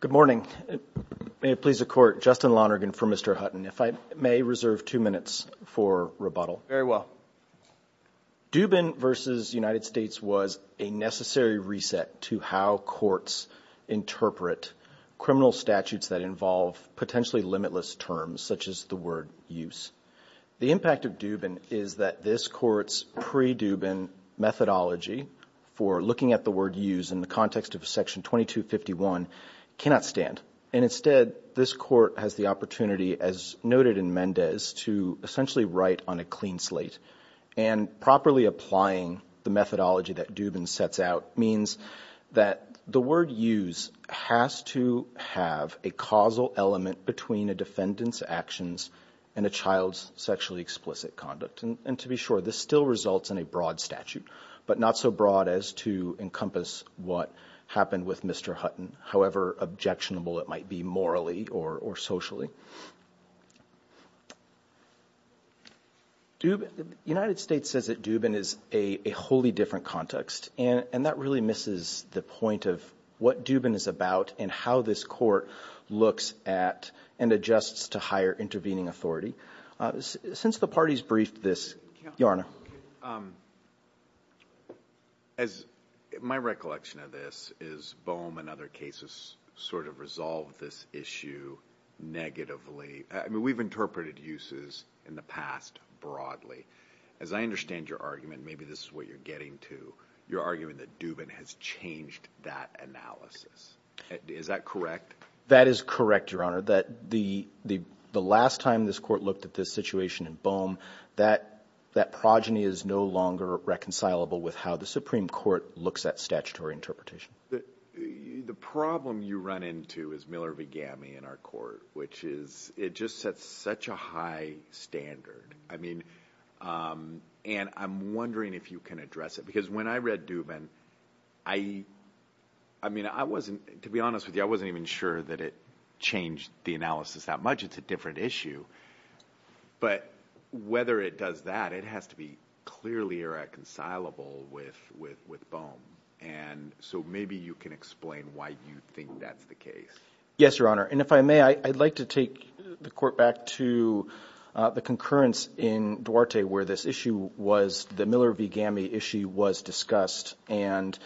Good morning, may it please the Court, Justin Lonergan for Mr. Hutton. If I may reserve two minutes for rebuttal. Very well. Dubin v. United States was a necessary reset to how courts interpret criminal statutes that involve potentially limitless terms, such as the word use. The impact of Dubin is that this Court's pre-Dubin methodology for looking at the word use in the context of Section 2251 cannot stand, and instead this Court has the opportunity, as noted in Mendez, to essentially write on a clean slate. And properly applying the methodology that Dubin sets out means that the word use has to have a causal element between a defendant's actions and a child's sexually explicit conduct. And to be sure, this still results in a broad statute, but not so broad as to encompass what happened with Mr. Hutton, however objectionable it might be morally or socially. United States says that Dubin is a wholly different context, and that really misses the point of what Dubin is about and how this Court looks at and adjusts to higher intervening authority. Since the parties briefed this, Your Honor. As my recollection of this is Boehm and other cases sort of resolved this issue negatively. I mean, we've interpreted uses in the past broadly. As I understand your argument, maybe this is what you're getting to. You're arguing that Dubin has changed that analysis. Is that correct? That is correct, Your Honor. That the last time this Court looked at this situation in Boehm, that progeny is no longer reconcilable with how the Supreme Court looks at statutory interpretation. The problem you run into is Miller-Vigamy in our Court, which is it just sets such a high standard. I mean, and I'm wondering if you can address it. Because when I read Dubin, I mean, I wasn't, to be honest with you, I wasn't even sure that it changed the analysis that much. It's a different issue. But whether it does that, it has to be clearly reconcilable with Boehm. And so maybe you can explain why you think that's the case. Yes, Your Honor. And if I may, I'd like to take the Court back to the concurrence in Duarte where this issue was, the Miller-Vigamy issue was discussed. And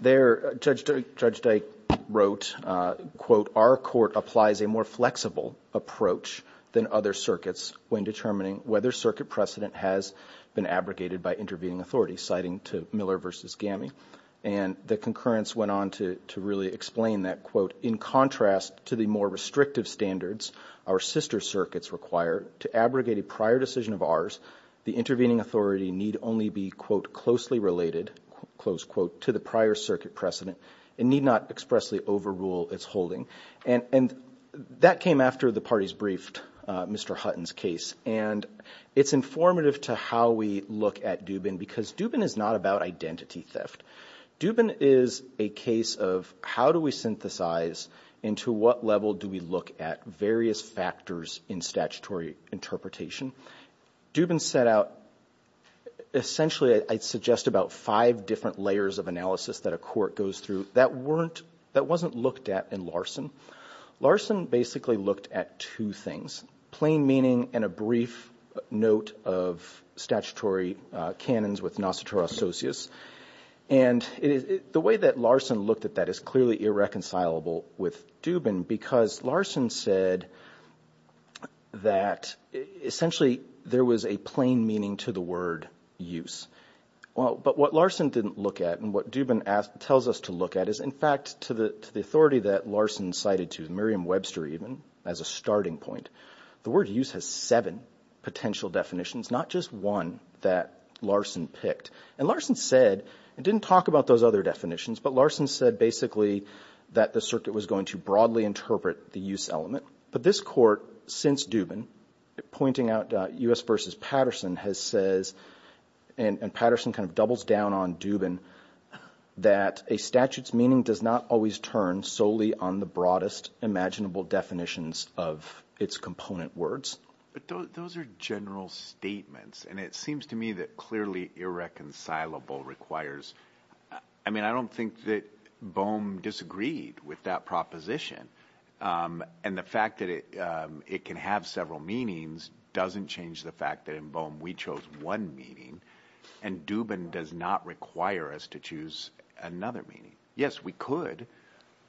there, Judge Dyke wrote, quote, our court applies a more flexible approach than other circuits when determining whether circuit precedent has been abrogated by intervening authority, citing to Miller versus Gamy. And the concurrence went on to really explain that, quote, in contrast to the more restrictive standards our sister circuits require to abrogate a prior decision of ours, the intervening authority need only be, quote, closely related, close quote, to the prior circuit precedent and need not expressly overrule its holding. And that came after the parties briefed Mr. Hutton's case. And it's informative to how we look at Dubin because Dubin is not about identity theft. Dubin is a case of how do we synthesize and to what level do we look at various factors in statutory interpretation. Dubin set out, essentially, I'd suggest about five different layers of analysis that a court goes through that weren't, that wasn't looked at in Larson. Larson basically looked at two things, plain meaning and a brief note of statutory canons with Nostra Asocius. And the way that Larson looked at that is clearly irreconcilable with Dubin, because Larson said that, essentially, there was a plain meaning to the word use. Well, but what Larson didn't look at and what Dubin tells us to look at is, in fact, to the authority that Larson cited to Miriam Webster even as a starting point. The word use has seven potential definitions, not just one that Larson picked. And Larson said, and didn't talk about those other definitions, but Larson said basically that the circuit was going to broadly interpret the use element. But this court, since Dubin, pointing out U.S. versus Patterson has says, and Patterson kind of doubles down on Dubin, that a statute's meaning does not always turn solely on the broadest imaginable definitions of its component words. But those are general statements, and it seems to me that clearly irreconcilable requires. I mean, I don't think that Boehm disagreed with that proposition. And the fact that it can have several meanings doesn't change the fact that in Boehm we chose one meaning. And Dubin does not require us to choose another meaning. Yes, we could,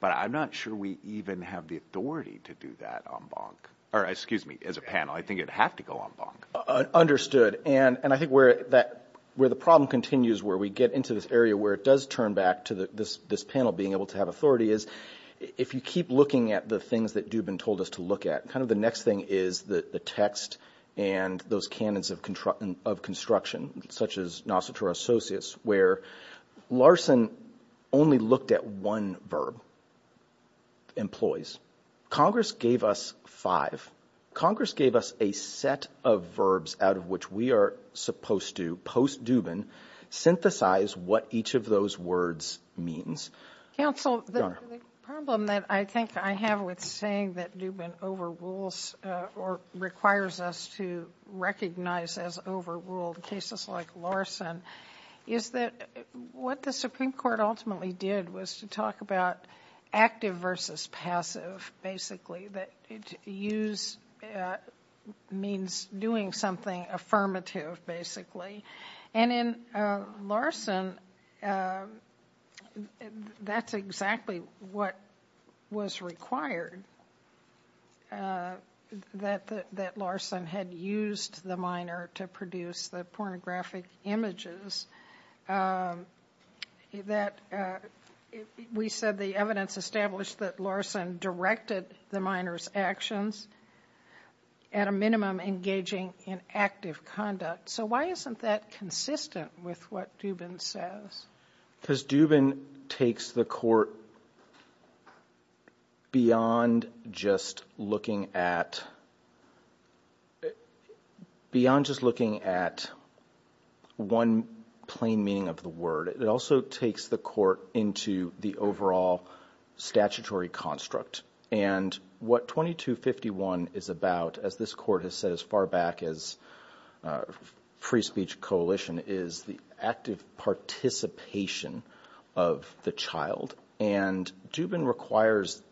but I'm not sure we even have the authority to do that on Bonk. Or excuse me, as a panel, I think it'd have to go on Bonk. And I think where the problem continues, where we get into this area where it does turn back to this panel being able to have authority, is if you keep looking at the things that Dubin told us to look at, kind of the next thing is the text and those canons of construction, such as Nosotro associates, where Larson only looked at one verb, employs. Congress gave us five. Congress gave us a set of verbs out of which we are supposed to, post-Dubin, synthesize what each of those words means. Counsel, the problem that I think I have with saying that Dubin overrules or requires us to recognize as overruled cases like Larson, is that what the Supreme Court ultimately did was to talk about active versus passive, basically. That use means doing something affirmative, basically. And in Larson, that's exactly what was required. That Larson had used the minor to produce the pornographic images. We said the evidence established that Larson directed the minor's actions at a minimum engaging in active conduct. So why isn't that consistent with what Dubin says? Because Dubin takes the court beyond just looking at one plain meaning of the word. It also takes the court into the overall statutory construct. And what 2251 is about, as this court has said as far back as free speech coalition, is the active participation of the child. And Dubin requires,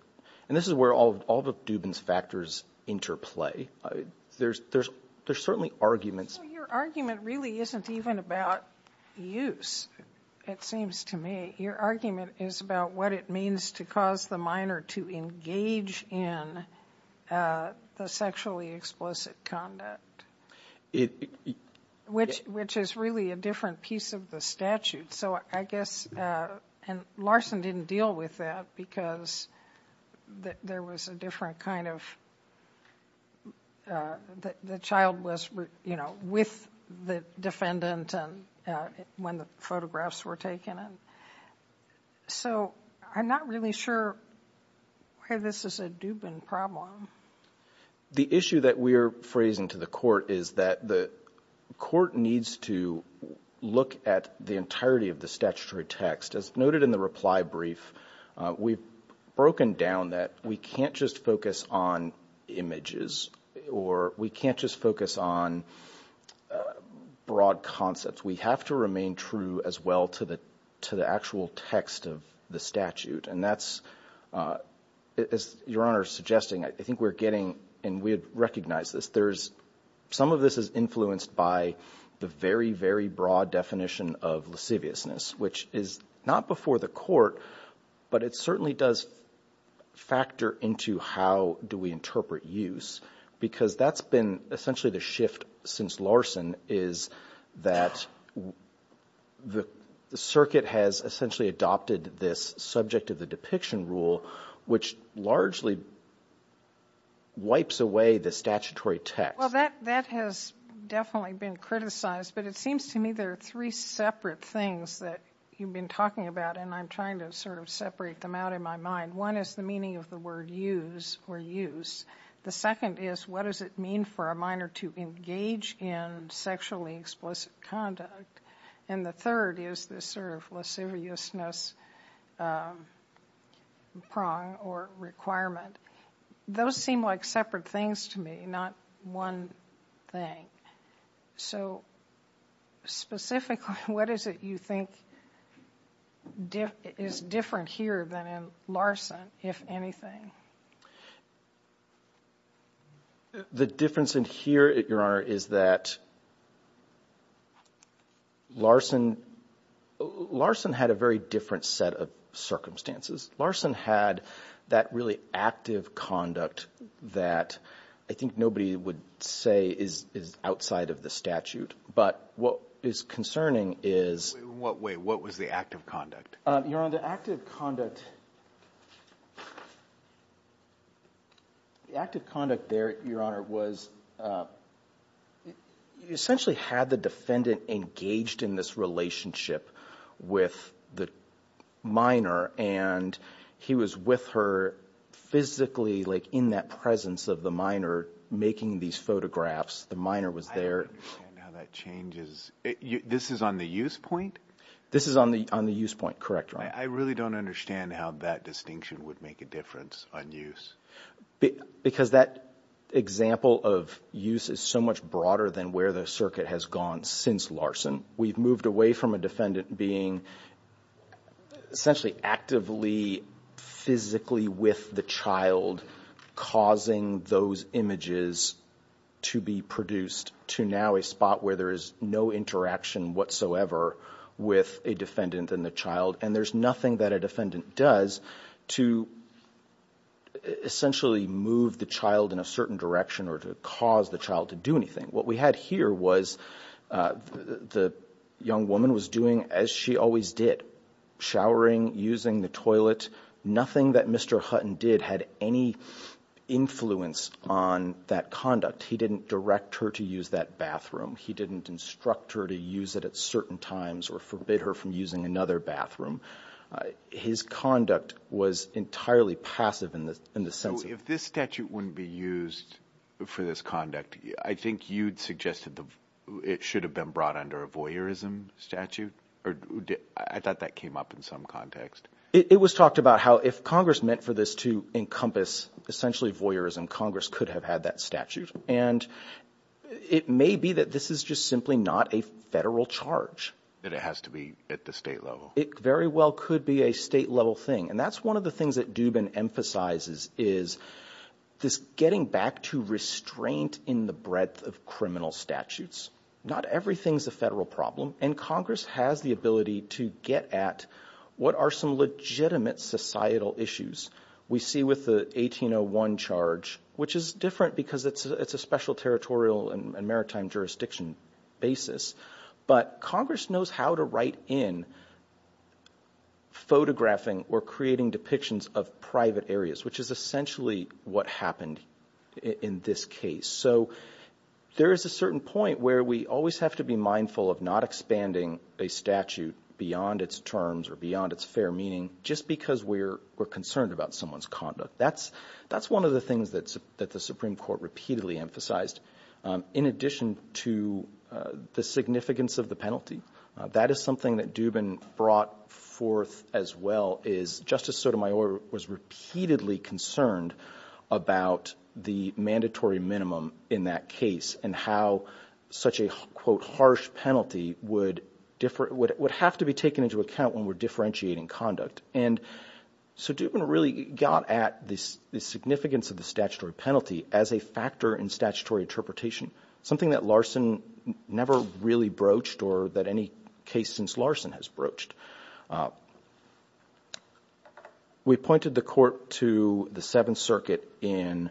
and this is where all of Dubin's factors interplay. There's certainly arguments. Your argument really isn't even about use, it seems to me. Your argument is about what it means to cause the minor to engage in the sexually explicit conduct. Which is really a different piece of the statute. So I guess, and Larson didn't deal with that because there was a different kind of, the child was, you know, with the defendant when the photographs were taken. So I'm not really sure why this is a Dubin problem. The issue that we are phrasing to the court is that the court needs to look at the entirety of the statutory text. As noted in the reply brief, we've broken down that we can't just focus on images. Or we can't just focus on broad concepts. We have to remain true as well to the actual text of the statute. And that's, as Your Honor is suggesting, I think we're getting, and we recognize this. Some of this is influenced by the very, very broad definition of lasciviousness. Which is not before the court, but it certainly does factor into how do we interpret use. Because that's been essentially the shift since Larson is that the circuit has essentially adopted this subject of the depiction rule. Which largely wipes away the statutory text. Well, that has definitely been criticized. But it seems to me there are three separate things that you've been talking about. And I'm trying to sort of separate them out in my mind. One is the meaning of the word use or use. The second is what does it mean for a minor to engage in sexually explicit conduct. And the third is this sort of lasciviousness prong or requirement. Those seem like separate things to me. Not one thing. So specifically what is it you think is different here than in Larson, if anything? The difference in here, Your Honor, is that Larson had a very different set of circumstances. Larson had that really active conduct that I think nobody would say is outside of the statute. But what is concerning is. Wait, what was the active conduct? Your Honor, the active conduct there, Your Honor, was essentially had the defendant engaged in this relationship with the minor. And he was with her physically like in that presence of the minor making these photographs. The minor was there. I don't understand how that changes. This is on the use point? This is on the use point. Correct, Your Honor. I really don't understand how that distinction would make a difference on use. Because that example of use is so much broader than where the circuit has gone since Larson. We've moved away from a defendant being essentially actively physically with the child causing those images to be produced to now a spot where there is no interaction whatsoever with a defendant and the child. And there's nothing that a defendant does to essentially move the child in a certain direction or to cause the child to do anything. What we had here was the young woman was doing as she always did, showering, using the toilet. Nothing that Mr. Hutton did had any influence on that conduct. He didn't direct her to use that bathroom. He didn't instruct her to use it at certain times or forbid her from using another bathroom. His conduct was entirely passive in the sense of the statute. So the statute wouldn't be used for this conduct. I think you'd suggested it should have been brought under a voyeurism statute. I thought that came up in some context. It was talked about how if Congress meant for this to encompass essentially voyeurism, Congress could have had that statute. And it may be that this is just simply not a federal charge. That it has to be at the state level. It very well could be a state level thing. And that's one of the things that Dubin emphasizes is this getting back to restraint in the breadth of criminal statutes. Not everything is a federal problem. And Congress has the ability to get at what are some legitimate societal issues. We see with the 1801 charge, which is different because it's a special territorial and maritime jurisdiction basis. But Congress knows how to write in photographing or creating depictions of private areas, which is essentially what happened in this case. So there is a certain point where we always have to be mindful of not expanding a statute beyond its terms or beyond its fair meaning just because we're concerned about someone's conduct. That's one of the things that the Supreme Court repeatedly emphasized in addition to the significance of the penalty. That is something that Dubin brought forth as well is Justice Sotomayor was repeatedly concerned about the mandatory minimum in that case. And how such a, quote, harsh penalty would have to be taken into account when we're differentiating conduct. And so Dubin really got at the significance of the statutory penalty as a factor in statutory interpretation. Something that Larson never really broached or that any case since Larson has broached. We pointed the court to the Seventh Circuit in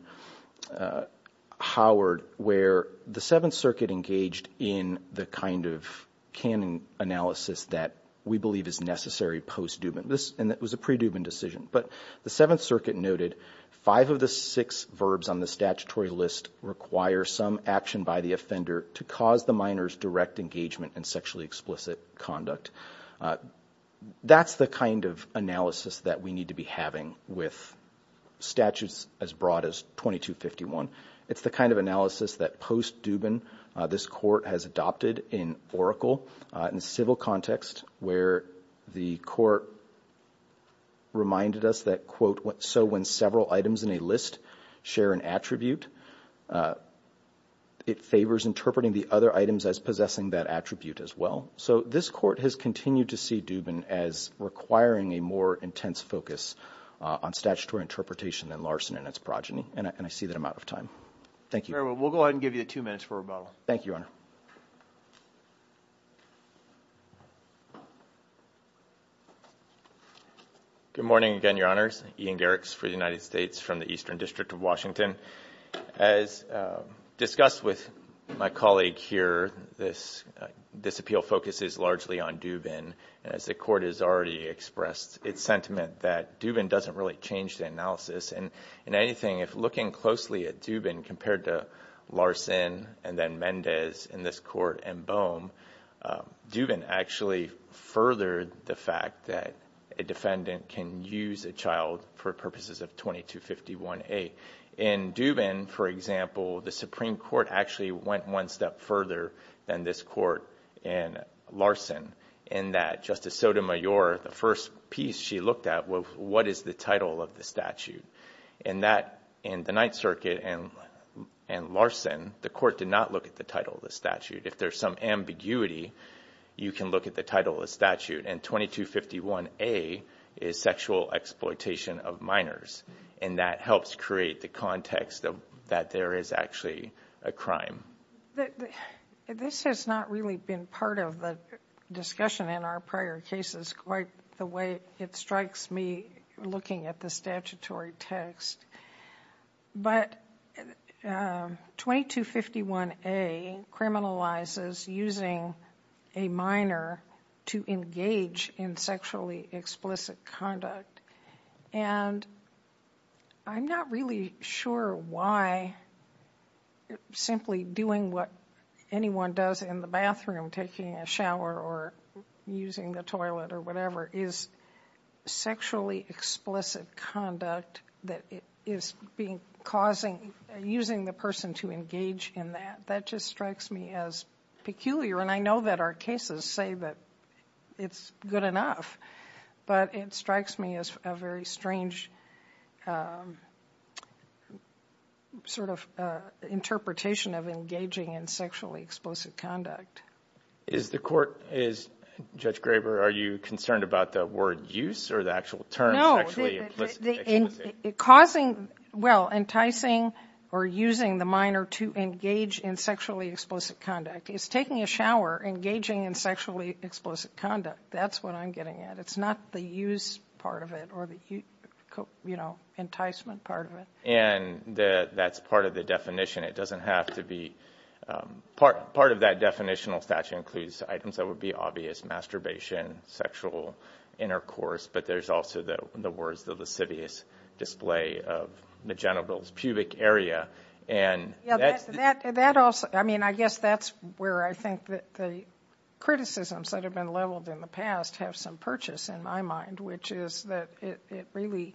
Howard where the Seventh Circuit engaged in the kind of canon analysis that we believe is necessary post-Dubin. And it was a pre-Dubin decision. But the Seventh Circuit noted five of the six verbs on the statutory list require some action by the offender to cause the minor's direct engagement in sexually explicit conduct. That's the kind of analysis that we need to be having with statutes as broad as 2251. It's the kind of analysis that post-Dubin this court has adopted in Oracle in civil context where the court reminded us that, quote, so when several items in a list share an attribute, it favors interpreting the other items as possessing that attribute as well. So this court has continued to see Dubin as requiring a more intense focus on statutory interpretation than Larson and its progeny. And I see that I'm out of time. Thank you. We'll go ahead and give you two minutes for rebuttal. Thank you, Your Honor. Good morning again, Your Honors. Ian Garrix for the United States from the Eastern District of Washington. As discussed with my colleague here, this appeal focuses largely on Dubin, and as the court has already expressed its sentiment that Dubin doesn't really change the analysis. And in anything, if looking closely at Dubin compared to Larson and then Mendez in this court and Bohm, Dubin actually furthered the fact that a defendant can use a child for purposes of 2251A. In Dubin, for example, the Supreme Court actually went one step further than this court and Larson, in that Justice Sotomayor, the first piece she looked at was what is the title of the statute. In the Ninth Circuit and Larson, the court did not look at the title of the statute. If there's some ambiguity, you can look at the title of the statute. And 2251A is sexual exploitation of minors, and that helps create the context that there is actually a crime. This has not really been part of the discussion in our prior cases quite the way it strikes me looking at the statutory text. But 2251A criminalizes using a minor to engage in sexually explicit conduct. And I'm not really sure why simply doing what anyone does in the bathroom, taking a shower or using the toilet or whatever, is sexually explicit conduct that is causing using the person to engage in that. That just strikes me as peculiar, and I know that our cases say that it's good enough, but it strikes me as a very strange sort of interpretation of engaging in sexually explicit conduct. Is the court, Judge Graber, are you concerned about the word use or the actual term sexually explicit? No, causing, well, enticing or using the minor to engage in sexually explicit conduct. It's taking a shower, engaging in sexually explicit conduct. That's what I'm getting at. It's not the use part of it or the, you know, enticement part of it. And that's part of the definition. It doesn't have to be part of that definitional statute includes items that would be obvious, masturbation, sexual intercourse, but there's also the words, the lascivious display of the genitals, pubic area. That also, I mean, I guess that's where I think the criticisms that have been leveled in the past have some purchase in my mind, which is that it really,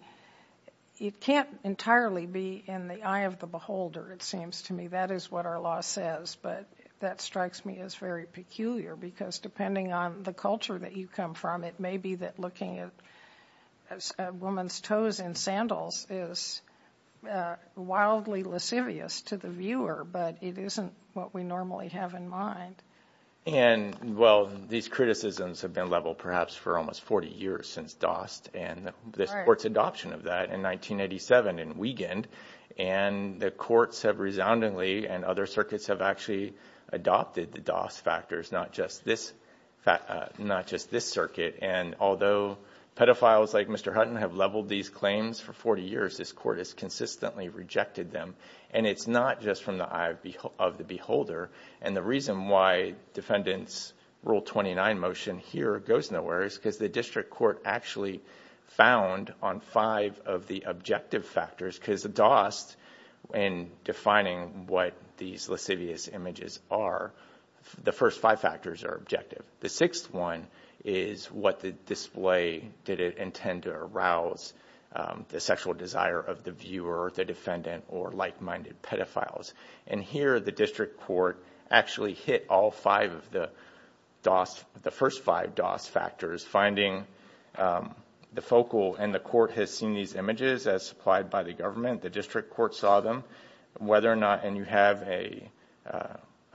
it can't entirely be in the eye of the beholder, it seems to me. That is what our law says, but that strikes me as very peculiar because depending on the culture that you come from, it may be that looking at a woman's toes in sandals is wildly lascivious to the viewer, but it isn't what we normally have in mind. And, well, these criticisms have been leveled perhaps for almost 40 years since DOST and this court's adoption of that in 1987 in Wiegand, and the courts have resoundingly and other circuits have actually adopted the DOST factors, not just this circuit, and although pedophiles like Mr. Hutton have leveled these claims for 40 years, this court has consistently rejected them, and it's not just from the eye of the beholder. And the reason why Defendant's Rule 29 motion here goes nowhere is because the district court actually found on five of the objective factors, because the DOST, in defining what these lascivious images are, the first five factors are objective. The sixth one is what the display did it intend to arouse, the sexual desire of the viewer, the defendant, or like-minded pedophiles. And here the district court actually hit all five of the DOST, the first five DOST factors, finding the focal, and the court has seen these images as supplied by the government, the district court saw them, whether or not, and you have a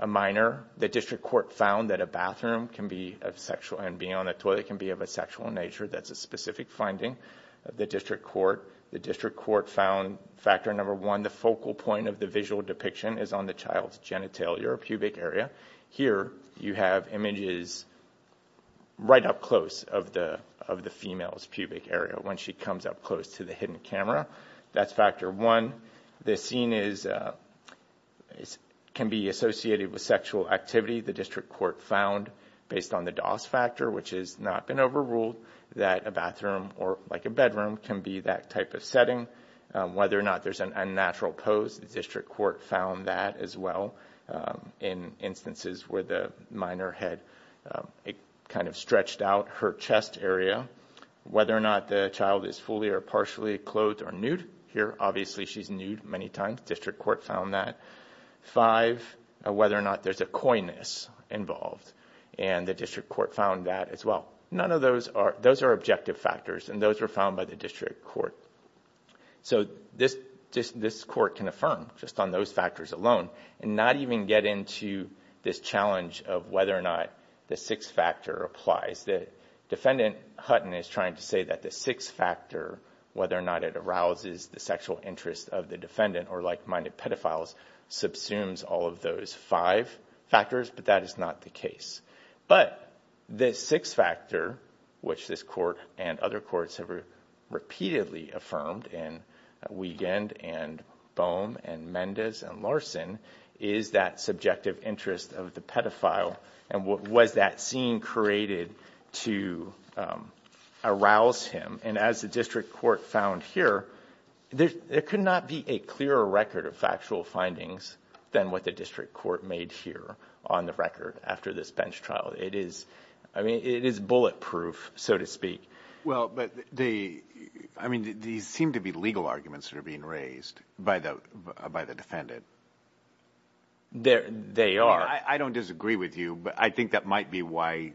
minor, the district court found that a bathroom can be of sexual, and being on the toilet can be of a sexual nature, that's a specific finding of the district court. The district court found factor number one, the focal point of the visual depiction is on the child's genitalia or pubic area. Here you have images right up close of the female's pubic area when she comes up close to the hidden camera, that's factor one. The scene can be associated with sexual activity, the district court found, based on the DOST factor, which has not been overruled, that a bathroom, or like a bedroom, can be that type of setting. Whether or not there's an unnatural pose, the district court found that as well, in instances where the minor had kind of stretched out her chest area. Whether or not the child is fully or partially clothed or nude, here obviously she's nude many times, district court found that. Five, whether or not there's a coyness involved, and the district court found that as well. None of those are objective factors, and those were found by the district court. This court can affirm just on those factors alone, and not even get into this challenge of whether or not the sixth factor applies. Defendant Hutton is trying to say that the sixth factor, whether or not it arouses the sexual interest of the defendant, or like-minded pedophiles, subsumes all of those five factors, but that is not the case. But the sixth factor, which this court and other courts have repeatedly affirmed, in Wiegand and Bohm and Mendez and Larson, is that subjective interest of the pedophile, and was that scene created to arouse him? And as the district court found here, there could not be a clearer record of factual findings than what the district court made here on the record after this bench trial. It is bulletproof, so to speak. Well, but these seem to be legal arguments that are being raised by the defendant. They are. I don't disagree with you, but I think that might be why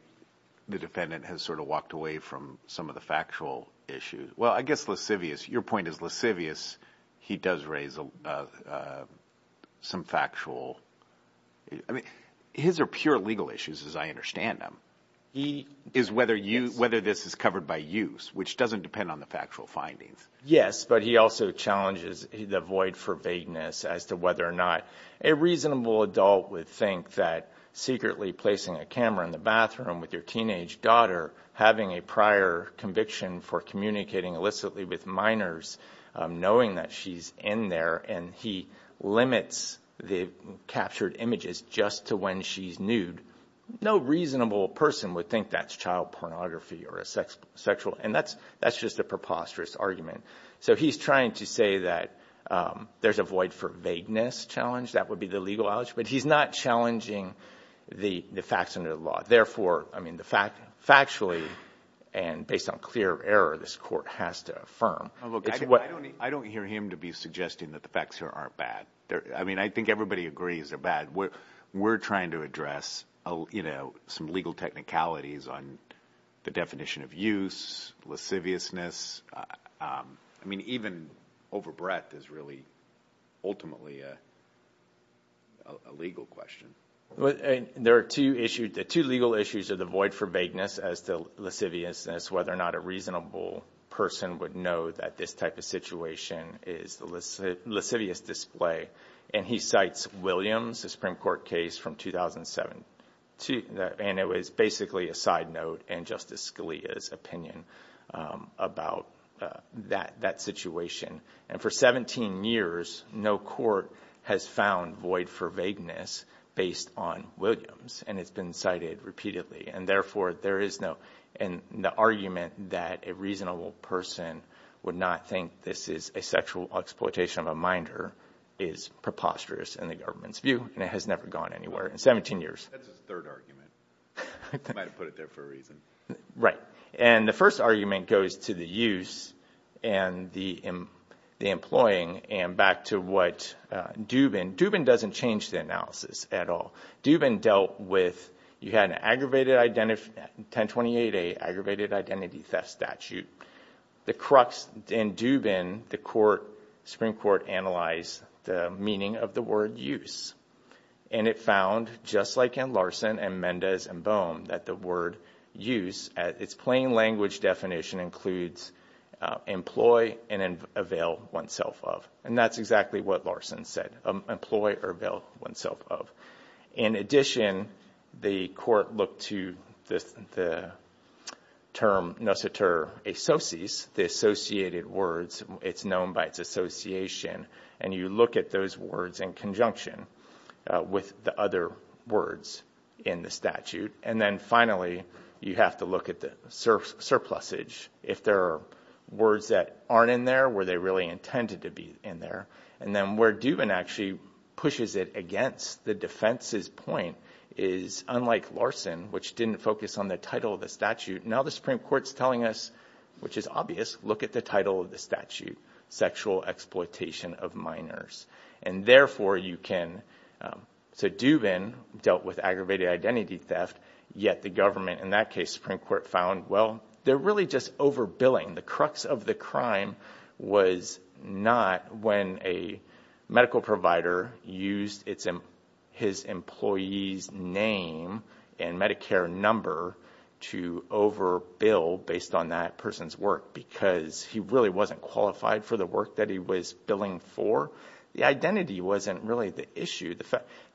the defendant has sort of walked away from some of the factual issues. Well, I guess Lascivious, your point is Lascivious, he does raise some factual. I mean, his are pure legal issues, as I understand them, is whether this is covered by use, which doesn't depend on the factual findings. Yes, but he also challenges the void for vagueness as to whether or not a reasonable adult would think that secretly placing a camera in the bathroom with your teenage daughter, having a prior conviction for communicating illicitly with minors, knowing that she's in there, and he limits the captured images just to when she's nude, no reasonable person would think that's child pornography or sexual, and that's just a preposterous argument. So he's trying to say that there's a void for vagueness challenge, that would be the legal allege, but he's not challenging the facts under the law. Therefore, I mean, factually and based on clear error, this court has to affirm. I don't hear him to be suggesting that the facts here aren't bad. I mean, I think everybody agrees they're bad. We're trying to address some legal technicalities on the definition of use, Lasciviousness. I mean, even overbreadth is really ultimately a legal question. There are two legal issues of the void for vagueness as to Lasciviousness, whether or not a reasonable person would know that this type of situation is the Lascivious display. And he cites Williams, a Supreme Court case from 2007, and it was basically a side note and Justice Scalia's opinion about that situation. And for 17 years, no court has found void for vagueness based on Williams, and it's been cited repeatedly. And therefore, there is no argument that a reasonable person would not think this is a sexual exploitation of a minder is preposterous in the government's view, and it has never gone anywhere in 17 years. That's his third argument. He might have put it there for a reason. Right. And the first argument goes to the use and the employing, and back to what Dubin – Dubin doesn't change the analysis at all. Dubin dealt with – you had an aggravated – 1028A, Aggravated Identity Theft Statute. The crux in Dubin, the Supreme Court analyzed the meaning of the word use, and it found, just like in Larson and Mendez and Bohm, that the word use – its plain language definition includes employ and avail oneself of. And that's exactly what Larson said, employ or avail oneself of. In addition, the court looked to the term nociter asociis, the associated words. It's known by its association. And you look at those words in conjunction with the other words in the statute. And then, finally, you have to look at the surplusage. If there are words that aren't in there, were they really intended to be in there? And then where Dubin actually pushes it against the defense's point is, unlike Larson, which didn't focus on the title of the statute, now the Supreme Court's telling us, which is obvious, look at the title of the statute, Sexual Exploitation of Minors. And, therefore, you can – so Dubin dealt with aggravated identity theft, yet the government, in that case, Supreme Court, found, well, they're really just overbilling. The crux of the crime was not when a medical provider used his employee's name and Medicare number to overbill based on that person's work because he really wasn't qualified for the work that he was billing for. The identity wasn't really the issue.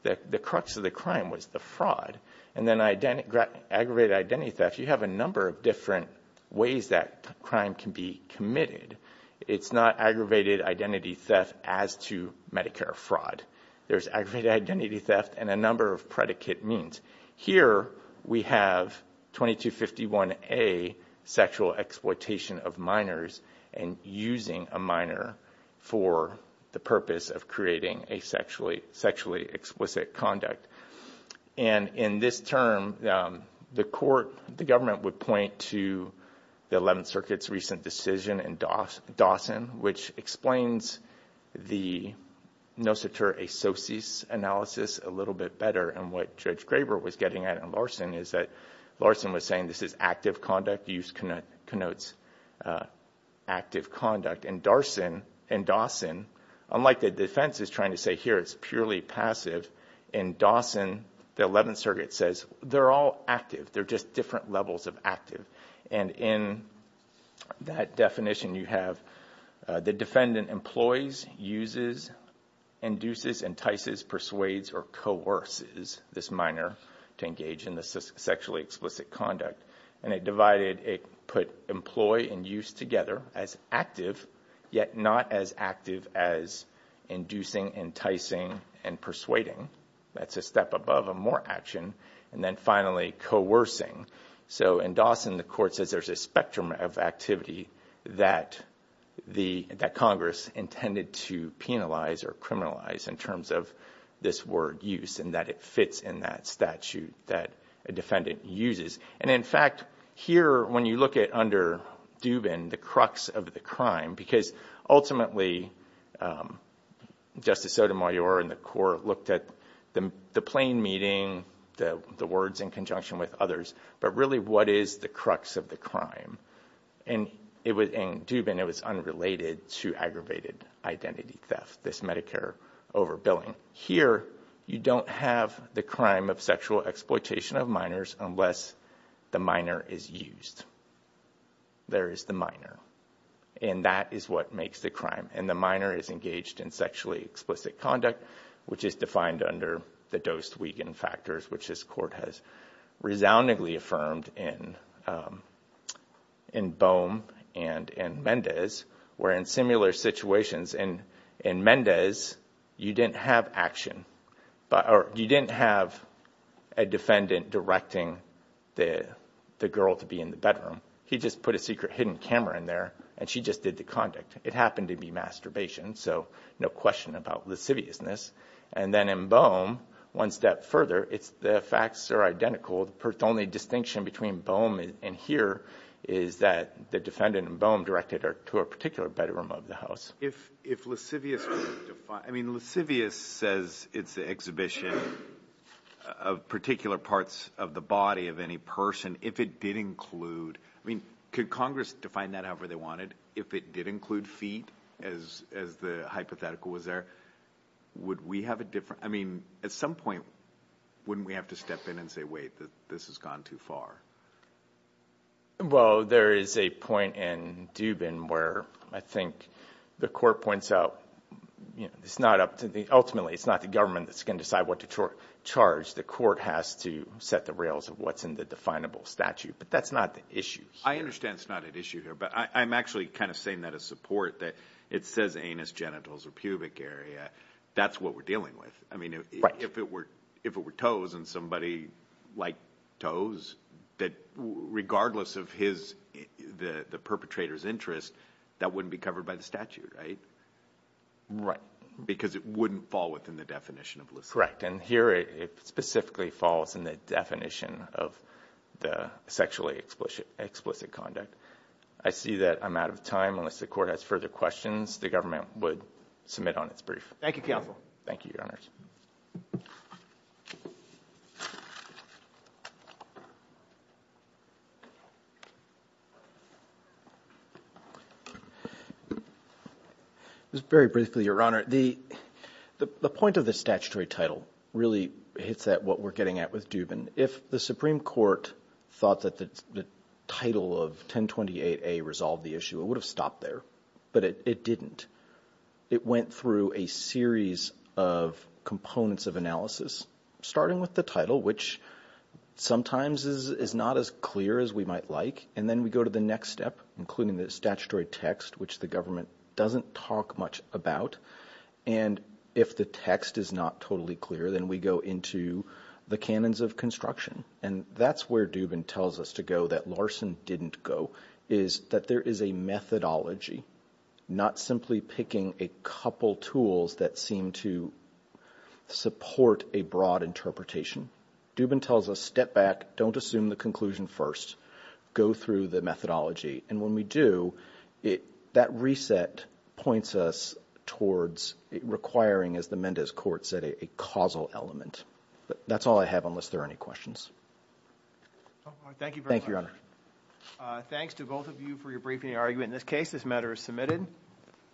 The crux of the crime was the fraud. And then aggravated identity theft, you have a number of different ways that crime can be committed. It's not aggravated identity theft as to Medicare fraud. There's aggravated identity theft and a number of predicate means. Here we have 2251A, Sexual Exploitation of Minors, and using a minor for the purpose of creating a sexually explicit conduct. And in this term, the court, the government, would point to the 11th Circuit's recent decision in Dawson, which explains the noceter asociis analysis a little bit better. And what Judge Graber was getting at in Larson is that Larson was saying this is active conduct. The use connotes active conduct. In Dawson, unlike the defense is trying to say here it's purely passive, in Dawson, the 11th Circuit says they're all active. They're just different levels of active. And in that definition, you have the defendant employs, uses, induces, entices, persuades, or coerces this minor to engage in the sexually explicit conduct. And it divided, it put employ and use together as active, yet not as active as inducing, enticing, and persuading. That's a step above a more action. And then finally, coercing. So in Dawson, the court says there's a spectrum of activity that Congress intended to penalize or criminalize in terms of this word use and that it fits in that statute that a defendant uses. And in fact, here, when you look at under Dubin, the crux of the crime, because ultimately Justice Sotomayor and the court looked at the plain meeting, the words in conjunction with others, but really what is the crux of the crime. And in Dubin, it was unrelated to aggravated identity theft, this Medicare overbilling. Here, you don't have the crime of sexual exploitation of minors unless the minor is used. There is the minor. And that is what makes the crime. And the minor is engaged in sexually explicit conduct, which is defined under the Dost-Wiegand factors, which this court has resoundingly affirmed in Boehm and in Mendez. Where in similar situations, in Mendez, you didn't have action, or you didn't have a defendant directing the girl to be in the bedroom. He just put a secret hidden camera in there, and she just did the conduct. It happened to be masturbation, so no question about lasciviousness. And then in Boehm, one step further, the facts are identical. The only distinction between Boehm and here is that the defendant in Boehm directed her to a particular bedroom of the house. If lascivious could define – I mean, lascivious says it's the exhibition of particular parts of the body of any person. If it did include – I mean, could Congress define that however they wanted? And if it did include feet, as the hypothetical was there, would we have a different – I mean, at some point, wouldn't we have to step in and say, wait, this has gone too far? Well, there is a point in Dubin where I think the court points out it's not up to the – ultimately, it's not the government that's going to decide what to charge. The court has to set the rails of what's in the definable statute. But that's not the issue. I understand it's not an issue here, but I'm actually kind of saying that as support, that it says anus, genitals, or pubic area. That's what we're dealing with. I mean, if it were toes and somebody liked toes, that regardless of his – the perpetrator's interest, that wouldn't be covered by the statute, right? Right. Because it wouldn't fall within the definition of lasciviousness. Correct. And here it specifically falls in the definition of the sexually explicit conduct. I see that I'm out of time. Unless the court has further questions, the government would submit on its brief. Thank you, counsel. Thank you, Your Honors. Just very briefly, Your Honor, the point of the statutory title really hits at what we're getting at with Dubin. If the Supreme Court thought that the title of 1028A resolved the issue, it would have stopped there. But it didn't. It went through a series of components of analysis, starting with the title, which sometimes is not as clear as we might like. And then we go to the next step, including the statutory text, which the government doesn't talk much about. And if the text is not totally clear, then we go into the canons of construction. And that's where Dubin tells us to go that Larson didn't go, is that there is a methodology, not simply picking a couple tools that seem to support a broad interpretation. Dubin tells us step back, don't assume the conclusion first, go through the methodology. And when we do, that reset points us towards requiring, as the Mendez court said, a causal element. That's all I have, unless there are any questions. Thank you very much. Thank you, Your Honor. Thanks to both of you for your briefing and argument. In this case, this matter is submitted.